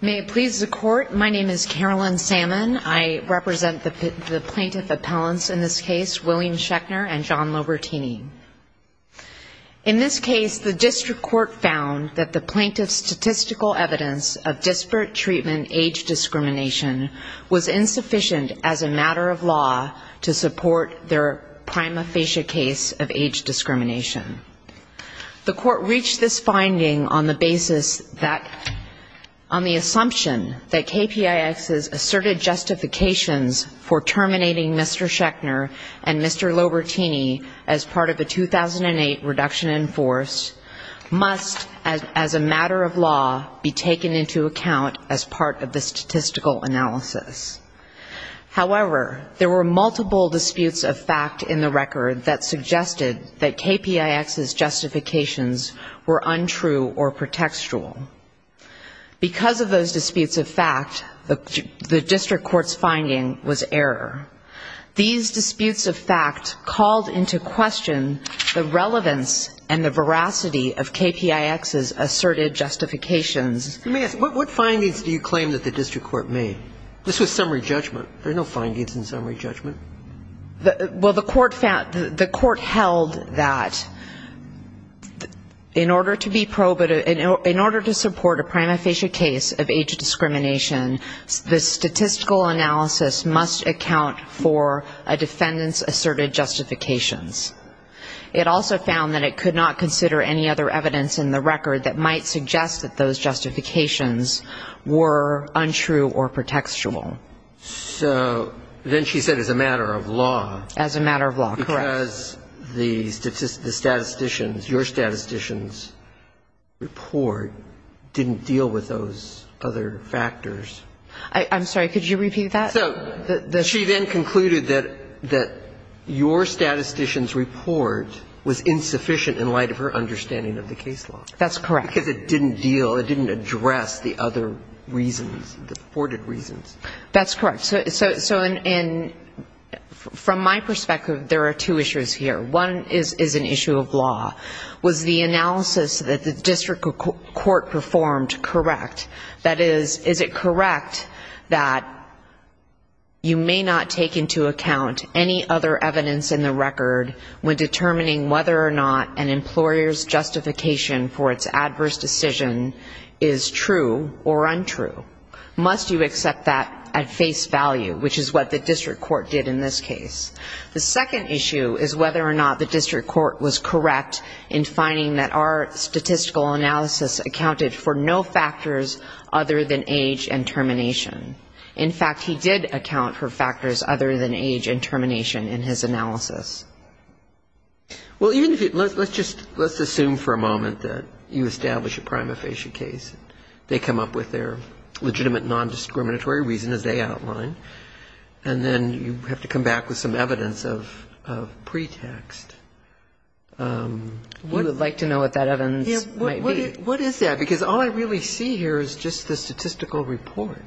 May it please the court, my name is Carolyn Salmon. I represent the plaintiff appellants in this case, William Schechner and John Lobertini. In this case, the district court found that the plaintiff's statistical evidence of disparate treatment age discrimination was insufficient as a matter of law to support their prima facie case of age discrimination. The court reached this on the assumption that KPIX's asserted justifications for terminating Mr. Schechner and Mr. Lobertini as part of a 2008 reduction in force must, as a matter of law, be taken into account as part of the statistical analysis. However, there were multiple disputes of fact in the record that suggested that KPIX's asserted justifications were not at all contextual. Because of those disputes of fact, the district court's finding was error. These disputes of fact called into question the relevance and the veracity of KPIX's asserted justifications You may ask, what findings do you claim that the district court made? This was summary judgment. There are no findings in summary judgment. Well, the court found, the court held that in order to be, in order to support a prima facie case of age discrimination, the statistical analysis must account for a defendant's asserted justifications. It also found that it could not consider any other evidence in the record that might suggest that those justifications were untrue or pretextual. So then she said as a matter of law. As a matter of law. Yes. Because the statisticians, your statisticians' report didn't deal with those other factors. I'm sorry. Could you repeat that? So she then concluded that your statistician's report was insufficient in light of her understanding of the case law. That's correct. Because it didn't deal, it didn't address the other reasons, the supported two issues here. One is an issue of law. Was the analysis that the district court performed correct? That is, is it correct that you may not take into account any other evidence in the record when determining whether or not an employer's justification for its adverse decision is true or untrue? Must you accept that at face value, which is what the district court did in this case? The second issue is whether or not the district court was correct in finding that our statistical analysis accounted for no factors other than age and termination. In fact, he did account for factors other than age and termination in his analysis. Well, even if you, let's just, let's assume for a moment that you establish a prima facie case. They come up with their legitimate nondiscriminatory reason, as they did the evidence of pretext. You would like to know what that evidence might be. What is that? Because all I really see here is just the statistical report.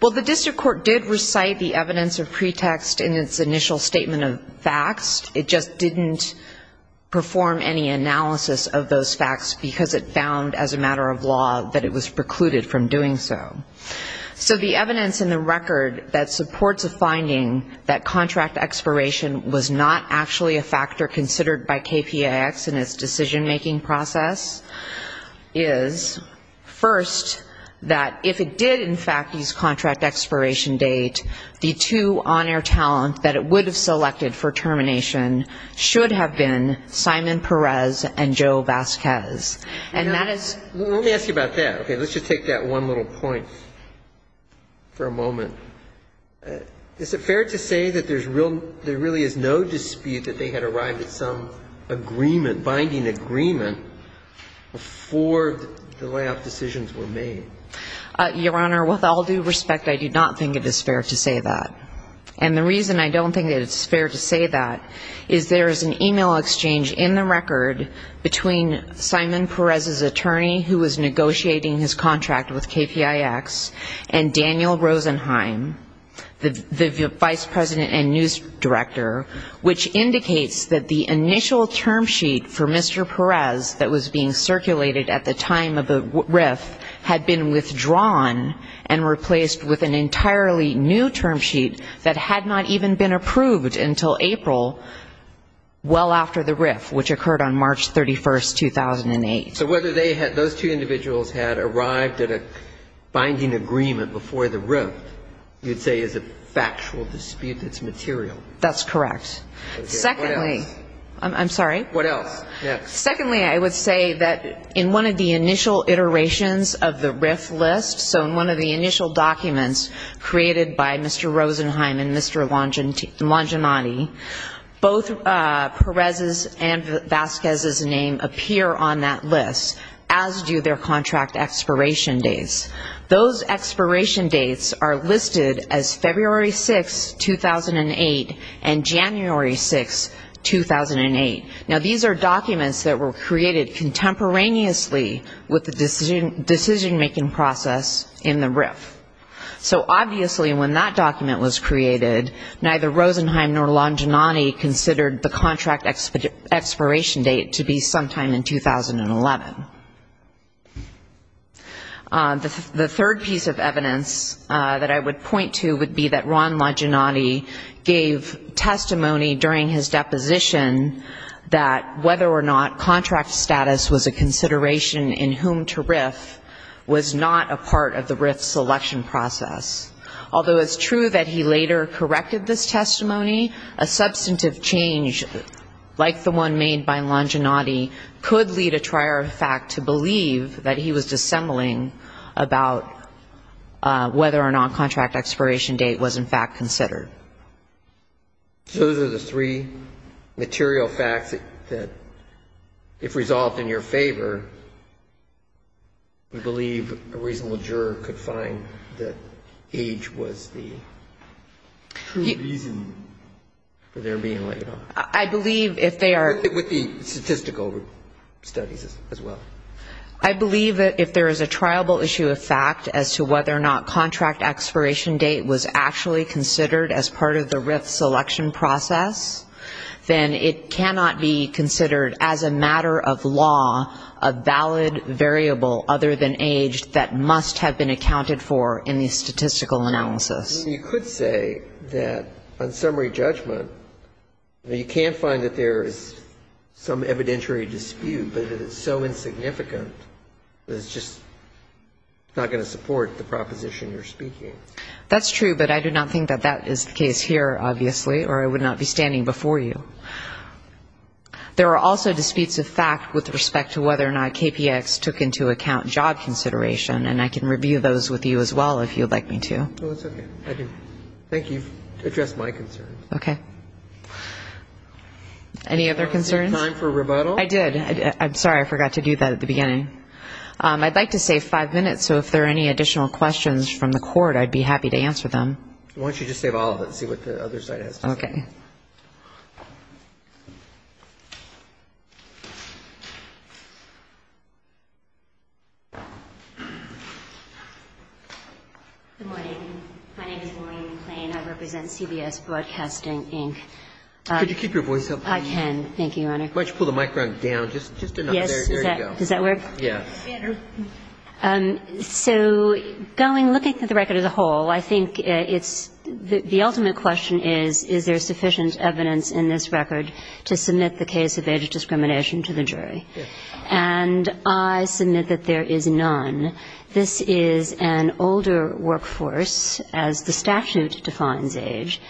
Well, the district court did recite the evidence of pretext in its initial statement of facts. It just didn't perform any analysis of those facts because it found as a matter of law that it was precluded from doing so. So the evidence in the record that supports a finding that contract expiration was not actually a factor considered by KPAX in its decision-making process is, first, that if it did in fact use contract expiration date, the two on-air talent that it would have selected for termination should have been Simon Perez and Joe Vasquez. And that is ---- Well, let me ask you about that. Okay. Let's just take that one little point for a moment. Is it fair to say that there's real, there really is no dispute that they had arrived at some agreement, binding agreement before the layoff decisions were made? Your Honor, with all due respect, I do not think it is fair to say that. And the reason I don't think that it's fair to say that is there is an e-mail exchange in the record between Simon Perez's attorney who was negotiating his contract with KPIX and Daniel Rosenheim, the vice president and news director, which indicates that the initial term sheet for Mr. Perez that was being circulated at the time of the RIF had been withdrawn and replaced with an entirely new term sheet that had not even been approved until April, well after the RIF. Which occurred on March 31, 2008. So whether they had, those two individuals had arrived at a binding agreement before the RIF, you'd say is a factual dispute that's material. That's correct. What else? I'm sorry? What else? Secondly, I would say that in one of the initial iterations of the RIF list, so in one of the initial documents created by Mr. Rosenheim and Mr. Longinati, both Perez's and Vasquez's name appear on that list, as do their contract expiration dates. Those expiration dates are listed as February 6, 2008, and January 6, 2008. Now, these are documents that were created contemporaneously with the decision-making process in the RIF. So obviously when that document was created, neither Rosenheim nor Longinati considered the contract expiration date to be sometime in 2011. The third piece of evidence that I would point to would be that Ron Longinati gave testimony during his deposition that whether or not contract status was a matter of fact, that he was dissembling about whether or not contract expiration date was in fact considered. So those are the three material facts that, if resolved in your favor, we believe that age was the true reason for their being laid off. With the statistical studies as well. I believe that if there is a triable issue of fact as to whether or not contract expiration date was actually considered as part of the RIF selection process, then it cannot be considered as a matter of law a valid variable other than age that must have been accounted for in the statistical analysis. And you could say that on summary judgment, you can't find that there is some evidentiary dispute, but it is so insignificant that it's just not going to support the proposition you're speaking. That's true, but I do not think that that is the case here, obviously, or I would not be standing before you. There are also disputes of fact with respect to whether or not KPX took into account job consideration, and I can review those with you as well, if you would like me to. Thank you. Address my concerns. Any other concerns? I did. I'm sorry, I forgot to do that at the beginning. I'd like to save five minutes, so if there are any additional questions from the Court, I'd be happy to answer them. Why don't you just save all of it and see what the other side has to say. Good morning. My name is Maureen McLean. I represent CBS Broadcasting, Inc. Could you keep your voice up? I can. Thank you, Your Honor. Why don't you pull the microphone down just enough. Does that work? Yes. So going, looking at the record as a whole, I think it's the ultimate question is, is there sufficient evidence in this record to submit the case of age discrimination to the jury? And I submit that there is none. This is an older workforce, as the statute defines age.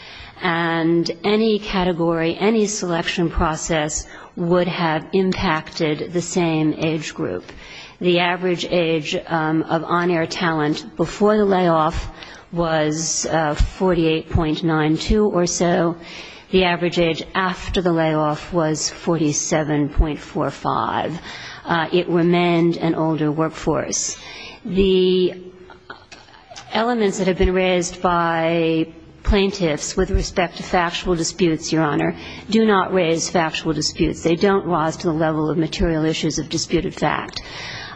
And any category, any selection process would have impacted the same age group. The average age of on-air talent before the layoff was 48.92 or so. The average age after the layoff was 47.45. It remained an older workforce. The elements that have been raised by plaintiffs with respect to factual disputes, Your Honor, do not raise factual disputes. They don't rise to the level of material issues of disputed fact,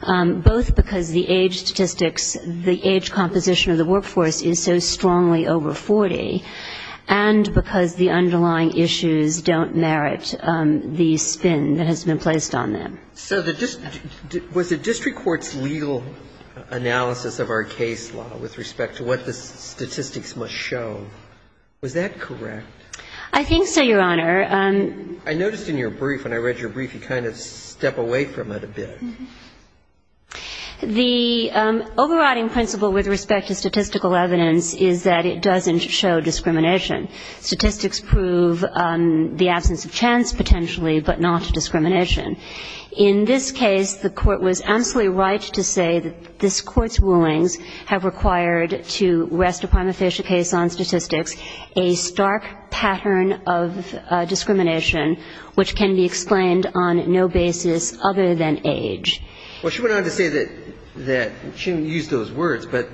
both because the age statistics, the age composition of the workforce is so strongly over 40, and because the underlying issues don't merit the spin that has been placed on them. So was the district court's legal analysis of our case law with respect to what the statistics must show, was that correct? I think so, Your Honor. I noticed in your brief, when I read your brief, you kind of step away from it a bit. The overriding principle with respect to statistical evidence is that it doesn't show discrimination. Statistics prove the absence of chance, potentially, but not discrimination. In this case, the Court was absolutely right to say that this Court's rulings have required to rest a prima facie case on statistics a stark pattern of discrimination which can be explained on no basis other than age. Well, she went on to say that she didn't use those words, but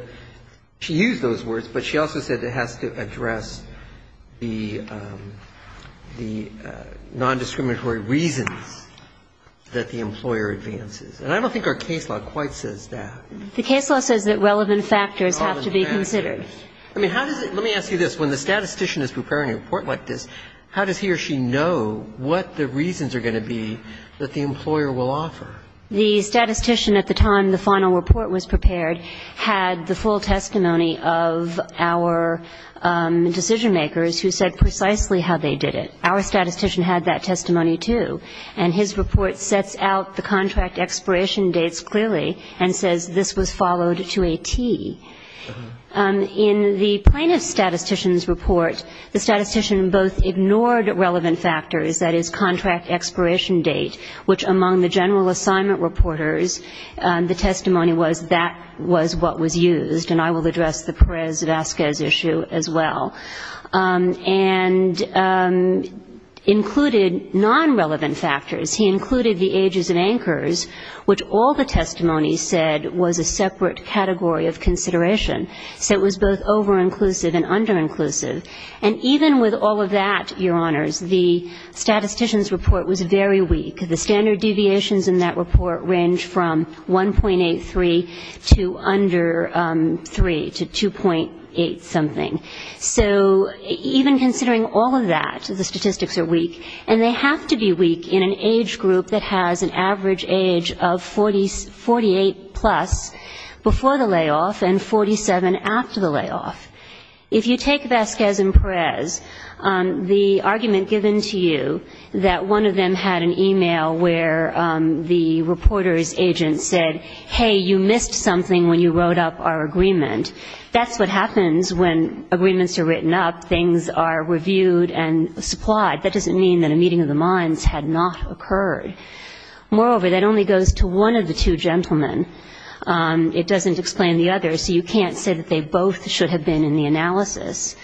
she used those words, but she also said it has to address the nondiscriminatory reasons that the employer advances. And I don't think our case law quite says that. The case law says that relevant factors have to be considered. I mean, how does it – let me ask you this. When the statistician is preparing a report like this, how does he or she know what the reasons are going to be that the employer will offer? The statistician at the time the final report was prepared had the full testimony of our decision-makers who said precisely how they did it. Our statistician had that testimony, too. And his report sets out the contract expiration dates clearly and says this was followed to a T. In the plaintiff statistician's report, the statistician both ignored relevant factors, that is, contract expiration date, which among the general assignment reporters the testimony was that was what was used. And I will address the Perez-Vazquez issue as well. And included non-relevant factors. He included the ages of anchors, which all the testimony said was a separate category of consideration. So it was both over-inclusive and under-inclusive. And even with all of that, Your Honors, the statistician's report was very weak. The standard deviations in that report range from 1.83 to under 3, to 2.8-something. So even considering all of that, the statistics are weak. And they have to be weak in an age group that has an average age of 48-plus before the layoff and 47 after the layoff. If you take Vazquez and Perez, the argument given to you that one of them had an e-mail where the reporter's agent said, hey, you missed something when you wrote up our agreement, that's what happens when agreements are written up, things are reviewed and supplied. That doesn't mean that a meeting of the minds had not occurred. Moreover, that only goes to one of the two gentlemen. It doesn't explain the other, so you can't say that they both should have been in the analysis.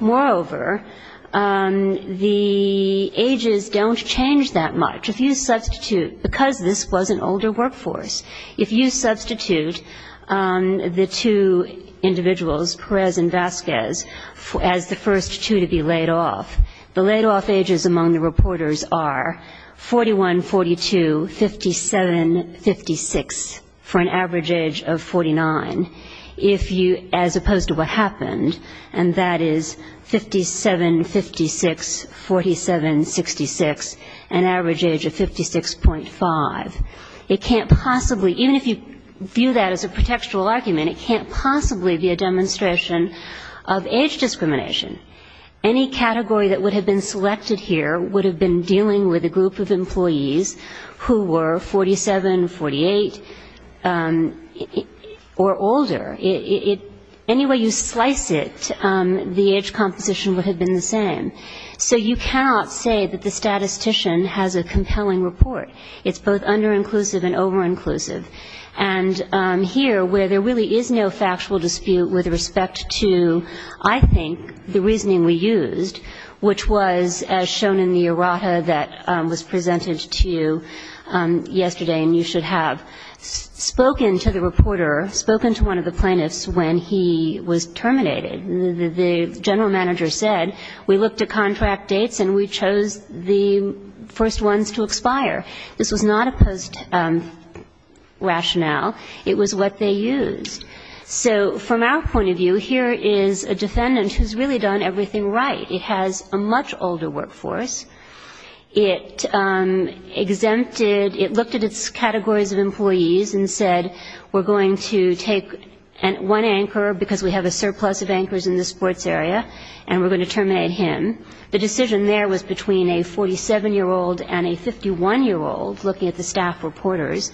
Moreover, the ages don't change that much. If you substitute, because this was an older workforce, if you substitute the two individuals, Perez and Vazquez, as the first two to be laid off, the laid-off ages among the reporters are 41, 42, 57, 56, for an average age of 49, as opposed to what happened, and that is 57, 56, 47, 66, an average age of 56.5. Even if you view that as a pretextual argument, it can't possibly be a demonstration of age discrimination. Any category that would have been selected here would have been dealing with a group of employees who were 47, 48, or older. Any way you slice it, the age composition would have been the same. So you cannot say that the statistician has a compelling report. It's both under-inclusive and over-inclusive. And here, where there really is no factual dispute with respect to, I think, the reasoning we used, which was, as shown in the errata that was presented to you yesterday, and you should have, spoken to the reporter, spoken to one of the plaintiffs when he was terminated. The general manager said, we looked at contract dates and we chose the first ones to expire. This was not opposed to rationale. It was what they used. So from our point of view, here is a defendant who's really done everything right. It has a much older workforce. It exempted, it looked at its categories of employees and said, we're going to take one anchor, because we have a surplus of anchors that are a year old, looking at the staff reporters,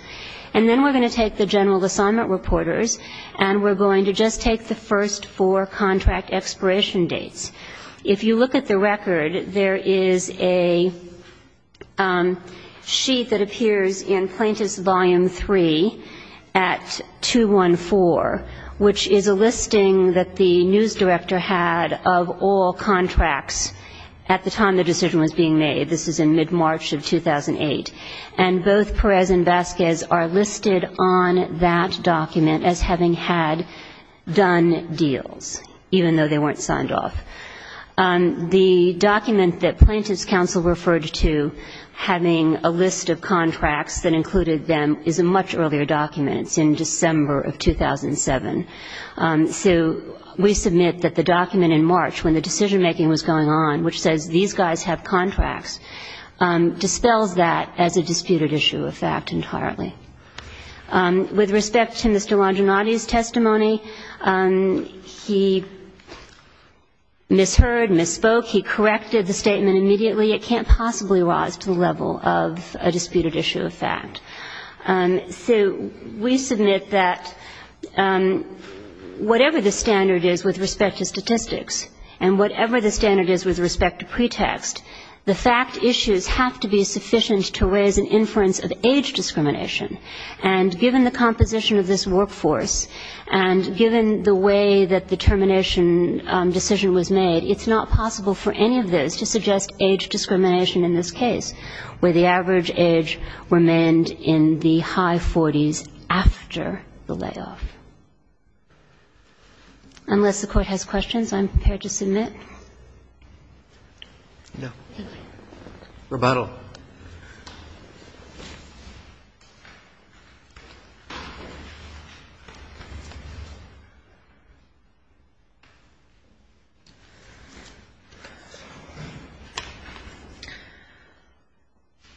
and then we're going to take the general assignment reporters, and we're going to just take the first four contract expiration dates. If you look at the record, there is a sheet that appears in Plaintiff's Volume 3 at 214, which is a listing that the news director had of all contracts at the time the decision was being made. This is in mid-March of 2008. And both Perez and Vasquez are listed on that document as having had done deals, even though they weren't signed off. The document that Plaintiff's Counsel referred to having a list of contracts that included them is a much earlier document. It's in December of 2007. So we submit that the document in March, when the decision-making was going on, which says these guys have contracts, dispels that as a disputed issue of fact entirely. With respect to Mr. Longinotti's testimony, he misheard, misspoke, he corrected the statement immediately. It can't possibly rise to the level of a disputed issue of fact. So we submit that whatever the standard is with respect to statistics, and whatever the standard is with respect to pretext, the fact issues have to be sufficient to raise an inference of age discrimination. And given the composition of this workforce, and given the way that the termination decision was made, it's not possible for any of this to suggest age discrimination in this case, where the average age remained in the high 40s after the layoff. Unless the Court has questions, I'm prepared to submit. Roberts.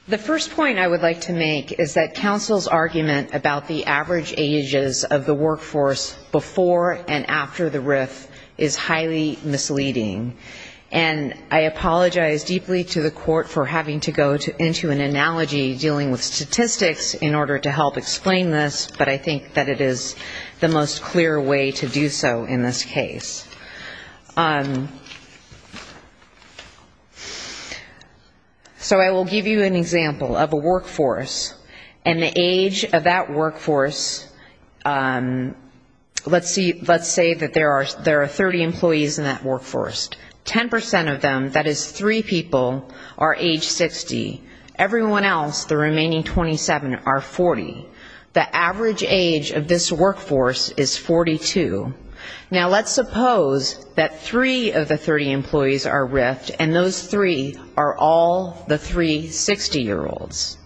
The first point I would like to make is that counsel's argument about the average ages of the workforce before and after the RIF is highly misleading. And I apologize deeply to the Court for having to go into an analogy dealing with statistics in order to help explain this, but I think that it is the most clear way to do so in this case. So I will give you an example of a workforce. And the age of that workforce, let's say that there are 30 employees in that workforce. 10 percent of them, that is three people, are age 60. Everyone else, the remaining 27, are 40. The average age of this workforce is 42. Now, let's suppose that three of the 30 employees are RIFed, and those three are all the three 60-year-olds.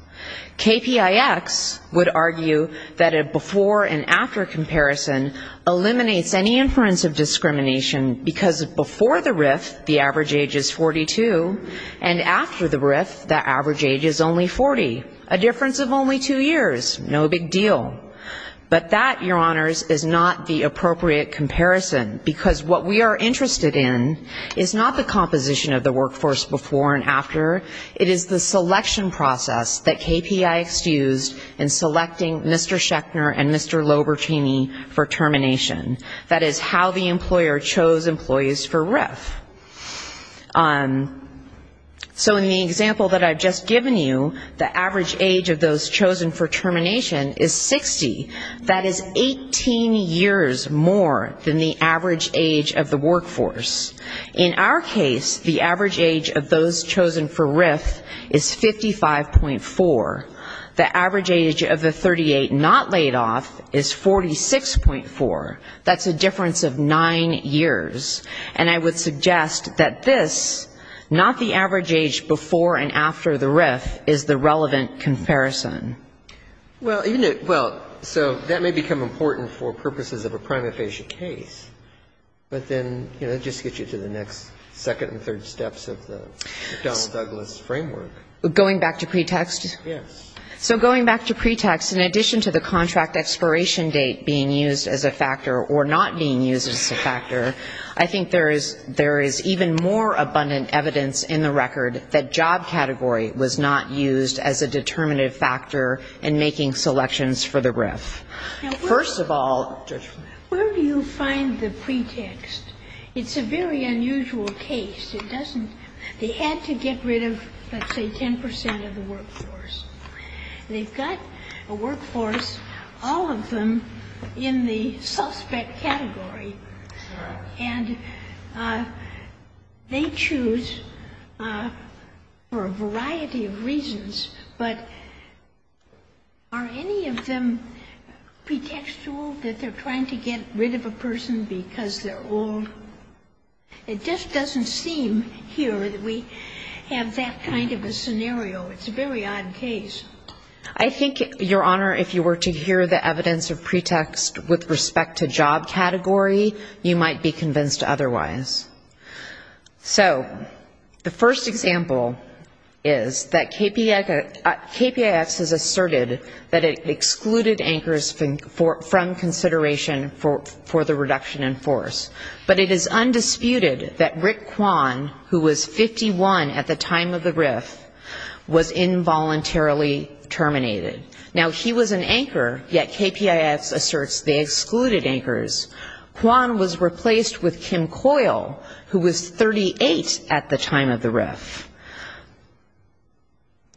KPIX would argue that a before and after comparison eliminates any inference of discrimination, because before the RIF the average age is 42, and after the RIF the average age is only 40. A difference of only two years, no big deal. But that, Your Honors, is not the appropriate comparison, because what we are interested in is not the composition of the workforce before and after, it is the selection process that KPIX used in selecting Mr. Schechner and Mr. Lobertini for termination. That is how the employer chose employees for RIF. So in the example that I've just given you, the average age of those chosen for termination is 60. That is 18 years more than the average age of the workforce. In our case, the average age of those chosen for RIF is 55.4. The average age of the 38 not laid off is 46.4. That's a difference of nine years. And I would suggest that this, not the average age before and after the RIF, is the relevant comparison. Well, so that may become important for purposes of a prima facie case, but then, you know, it just gets you to the next second and third steps of the Donald Douglas framework. Going back to pretext? Yes. So going back to pretext, in addition to the contract expiration date being used as a factor or not being used as a factor, I think there is even more abundant evidence in the record that job category was not used as a determinative factor in making selections for the RIF. First of all, where do you find the pretext? It's a very unusual case. It doesn't they had to get rid of, let's say, 10 percent of the workforce. They've got a workforce, all of them in the suspect category, and they choose for a variety of reasons. But are any of them pretextual that they're trying to get rid of a person because they're old? It just doesn't seem here that we have that kind of a scenario. It's a very odd case. I think, Your Honor, if you were to hear the evidence of pretext with respect to job category, you might be convinced otherwise. So the first example is that KPIX has asserted that it excluded anchors from consideration for the reduction in force. But it is undisputed that Rick Kwan, who was 51 at the time of the RIF, was involuntarily terminated. Now, he was an anchor, yet KPIX asserts they excluded anchors. Kwan was replaced with Kim Coyle, who was 38 at the time of the RIF.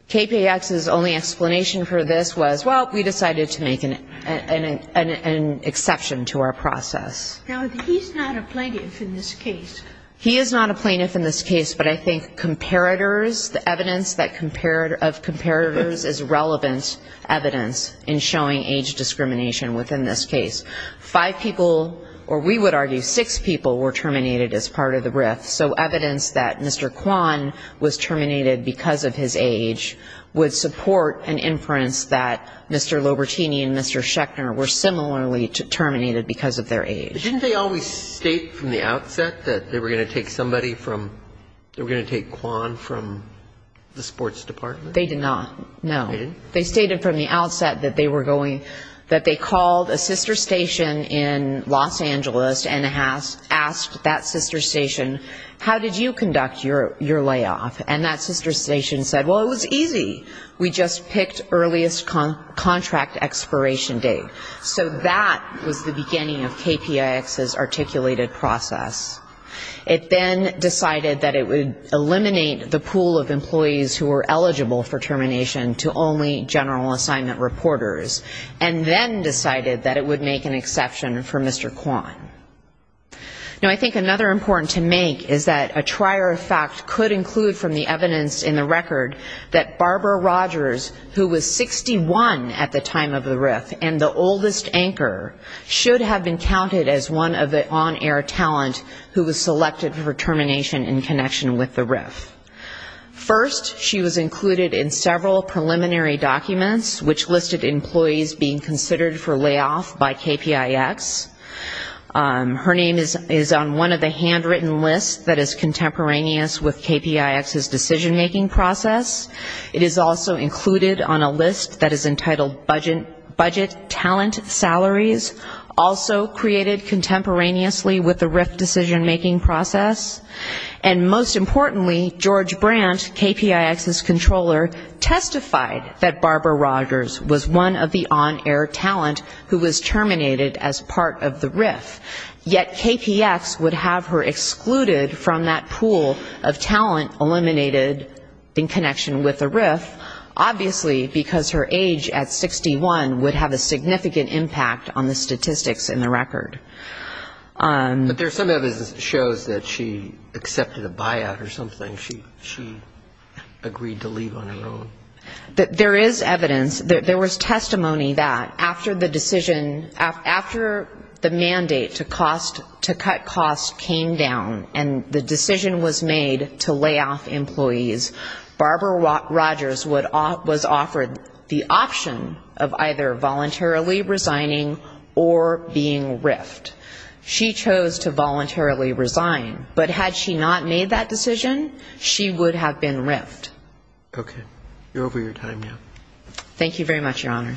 KPIX's only explanation for this was, well, we decided to make an exception to our process. Now, he's not a plaintiff in this case. He is not a plaintiff in this case, but I think comparators, the evidence of comparators is relevant evidence in showing age discrimination within this case. Five people, or we would argue six people, were terminated as part of the RIF. So evidence that Mr. Kwan was terminated because of his age would support an inference that Mr. Lobertini and Mr. Schechter were similarly terminated because of their age. Didn't they always state from the outset that they were going to take somebody from, they were going to take Kwan from the sports department? They did not, no. They stated from the outset that they were going, that they called a sister station in Los Angeles and asked that sister station, how did you conduct your layoff? And that sister station said, well, it was easy, we just picked earliest contract expiration date. So that was the beginning of KPIX's articulated process. It then decided that it would eliminate the pool of employees who were eligible for termination to only general assignment reporters, and then decided that it would make an exception for Mr. Kwan. Now, I think another important to make is that a trier of fact could include from the evidence in the record that Barbara Rogers, who was 61 at the time of the RIF and the oldest anchor, should have been counted as one of the on-air talent who was selected for termination in connection with the RIF. First, she was included in several preliminary documents, which listed employees being considered for layoff by KPIX. Her name is on one of the handwritten lists that is contemporaneous with KPIX's decision-making process. It is also included on a list that is entitled budget talent salaries, also created contemporaneously with the RIF decision-making process. And most importantly, George Brandt, KPIX's controller, testified that Barbara Rogers was one of the on-air talent who was terminated as part of the RIF. Yet KPIX would have her excluded from that pool of talent eliminated in connection with the RIF, obviously because her age at 61 would have a significant impact on the statistics in the record. But there's some evidence that shows that she accepted a buyout or something, she agreed to leave on her own. There is evidence, there was testimony that after the decision, after the mandate to cut costs came down and the decision was made to layoff employees, Barbara Rogers was offered the option of either voluntarily resigning or being RIF. She chose to voluntarily resign, but had she not made that decision, she would have been RIFed. Okay. You're over your time now. Thank you very much, Your Honor.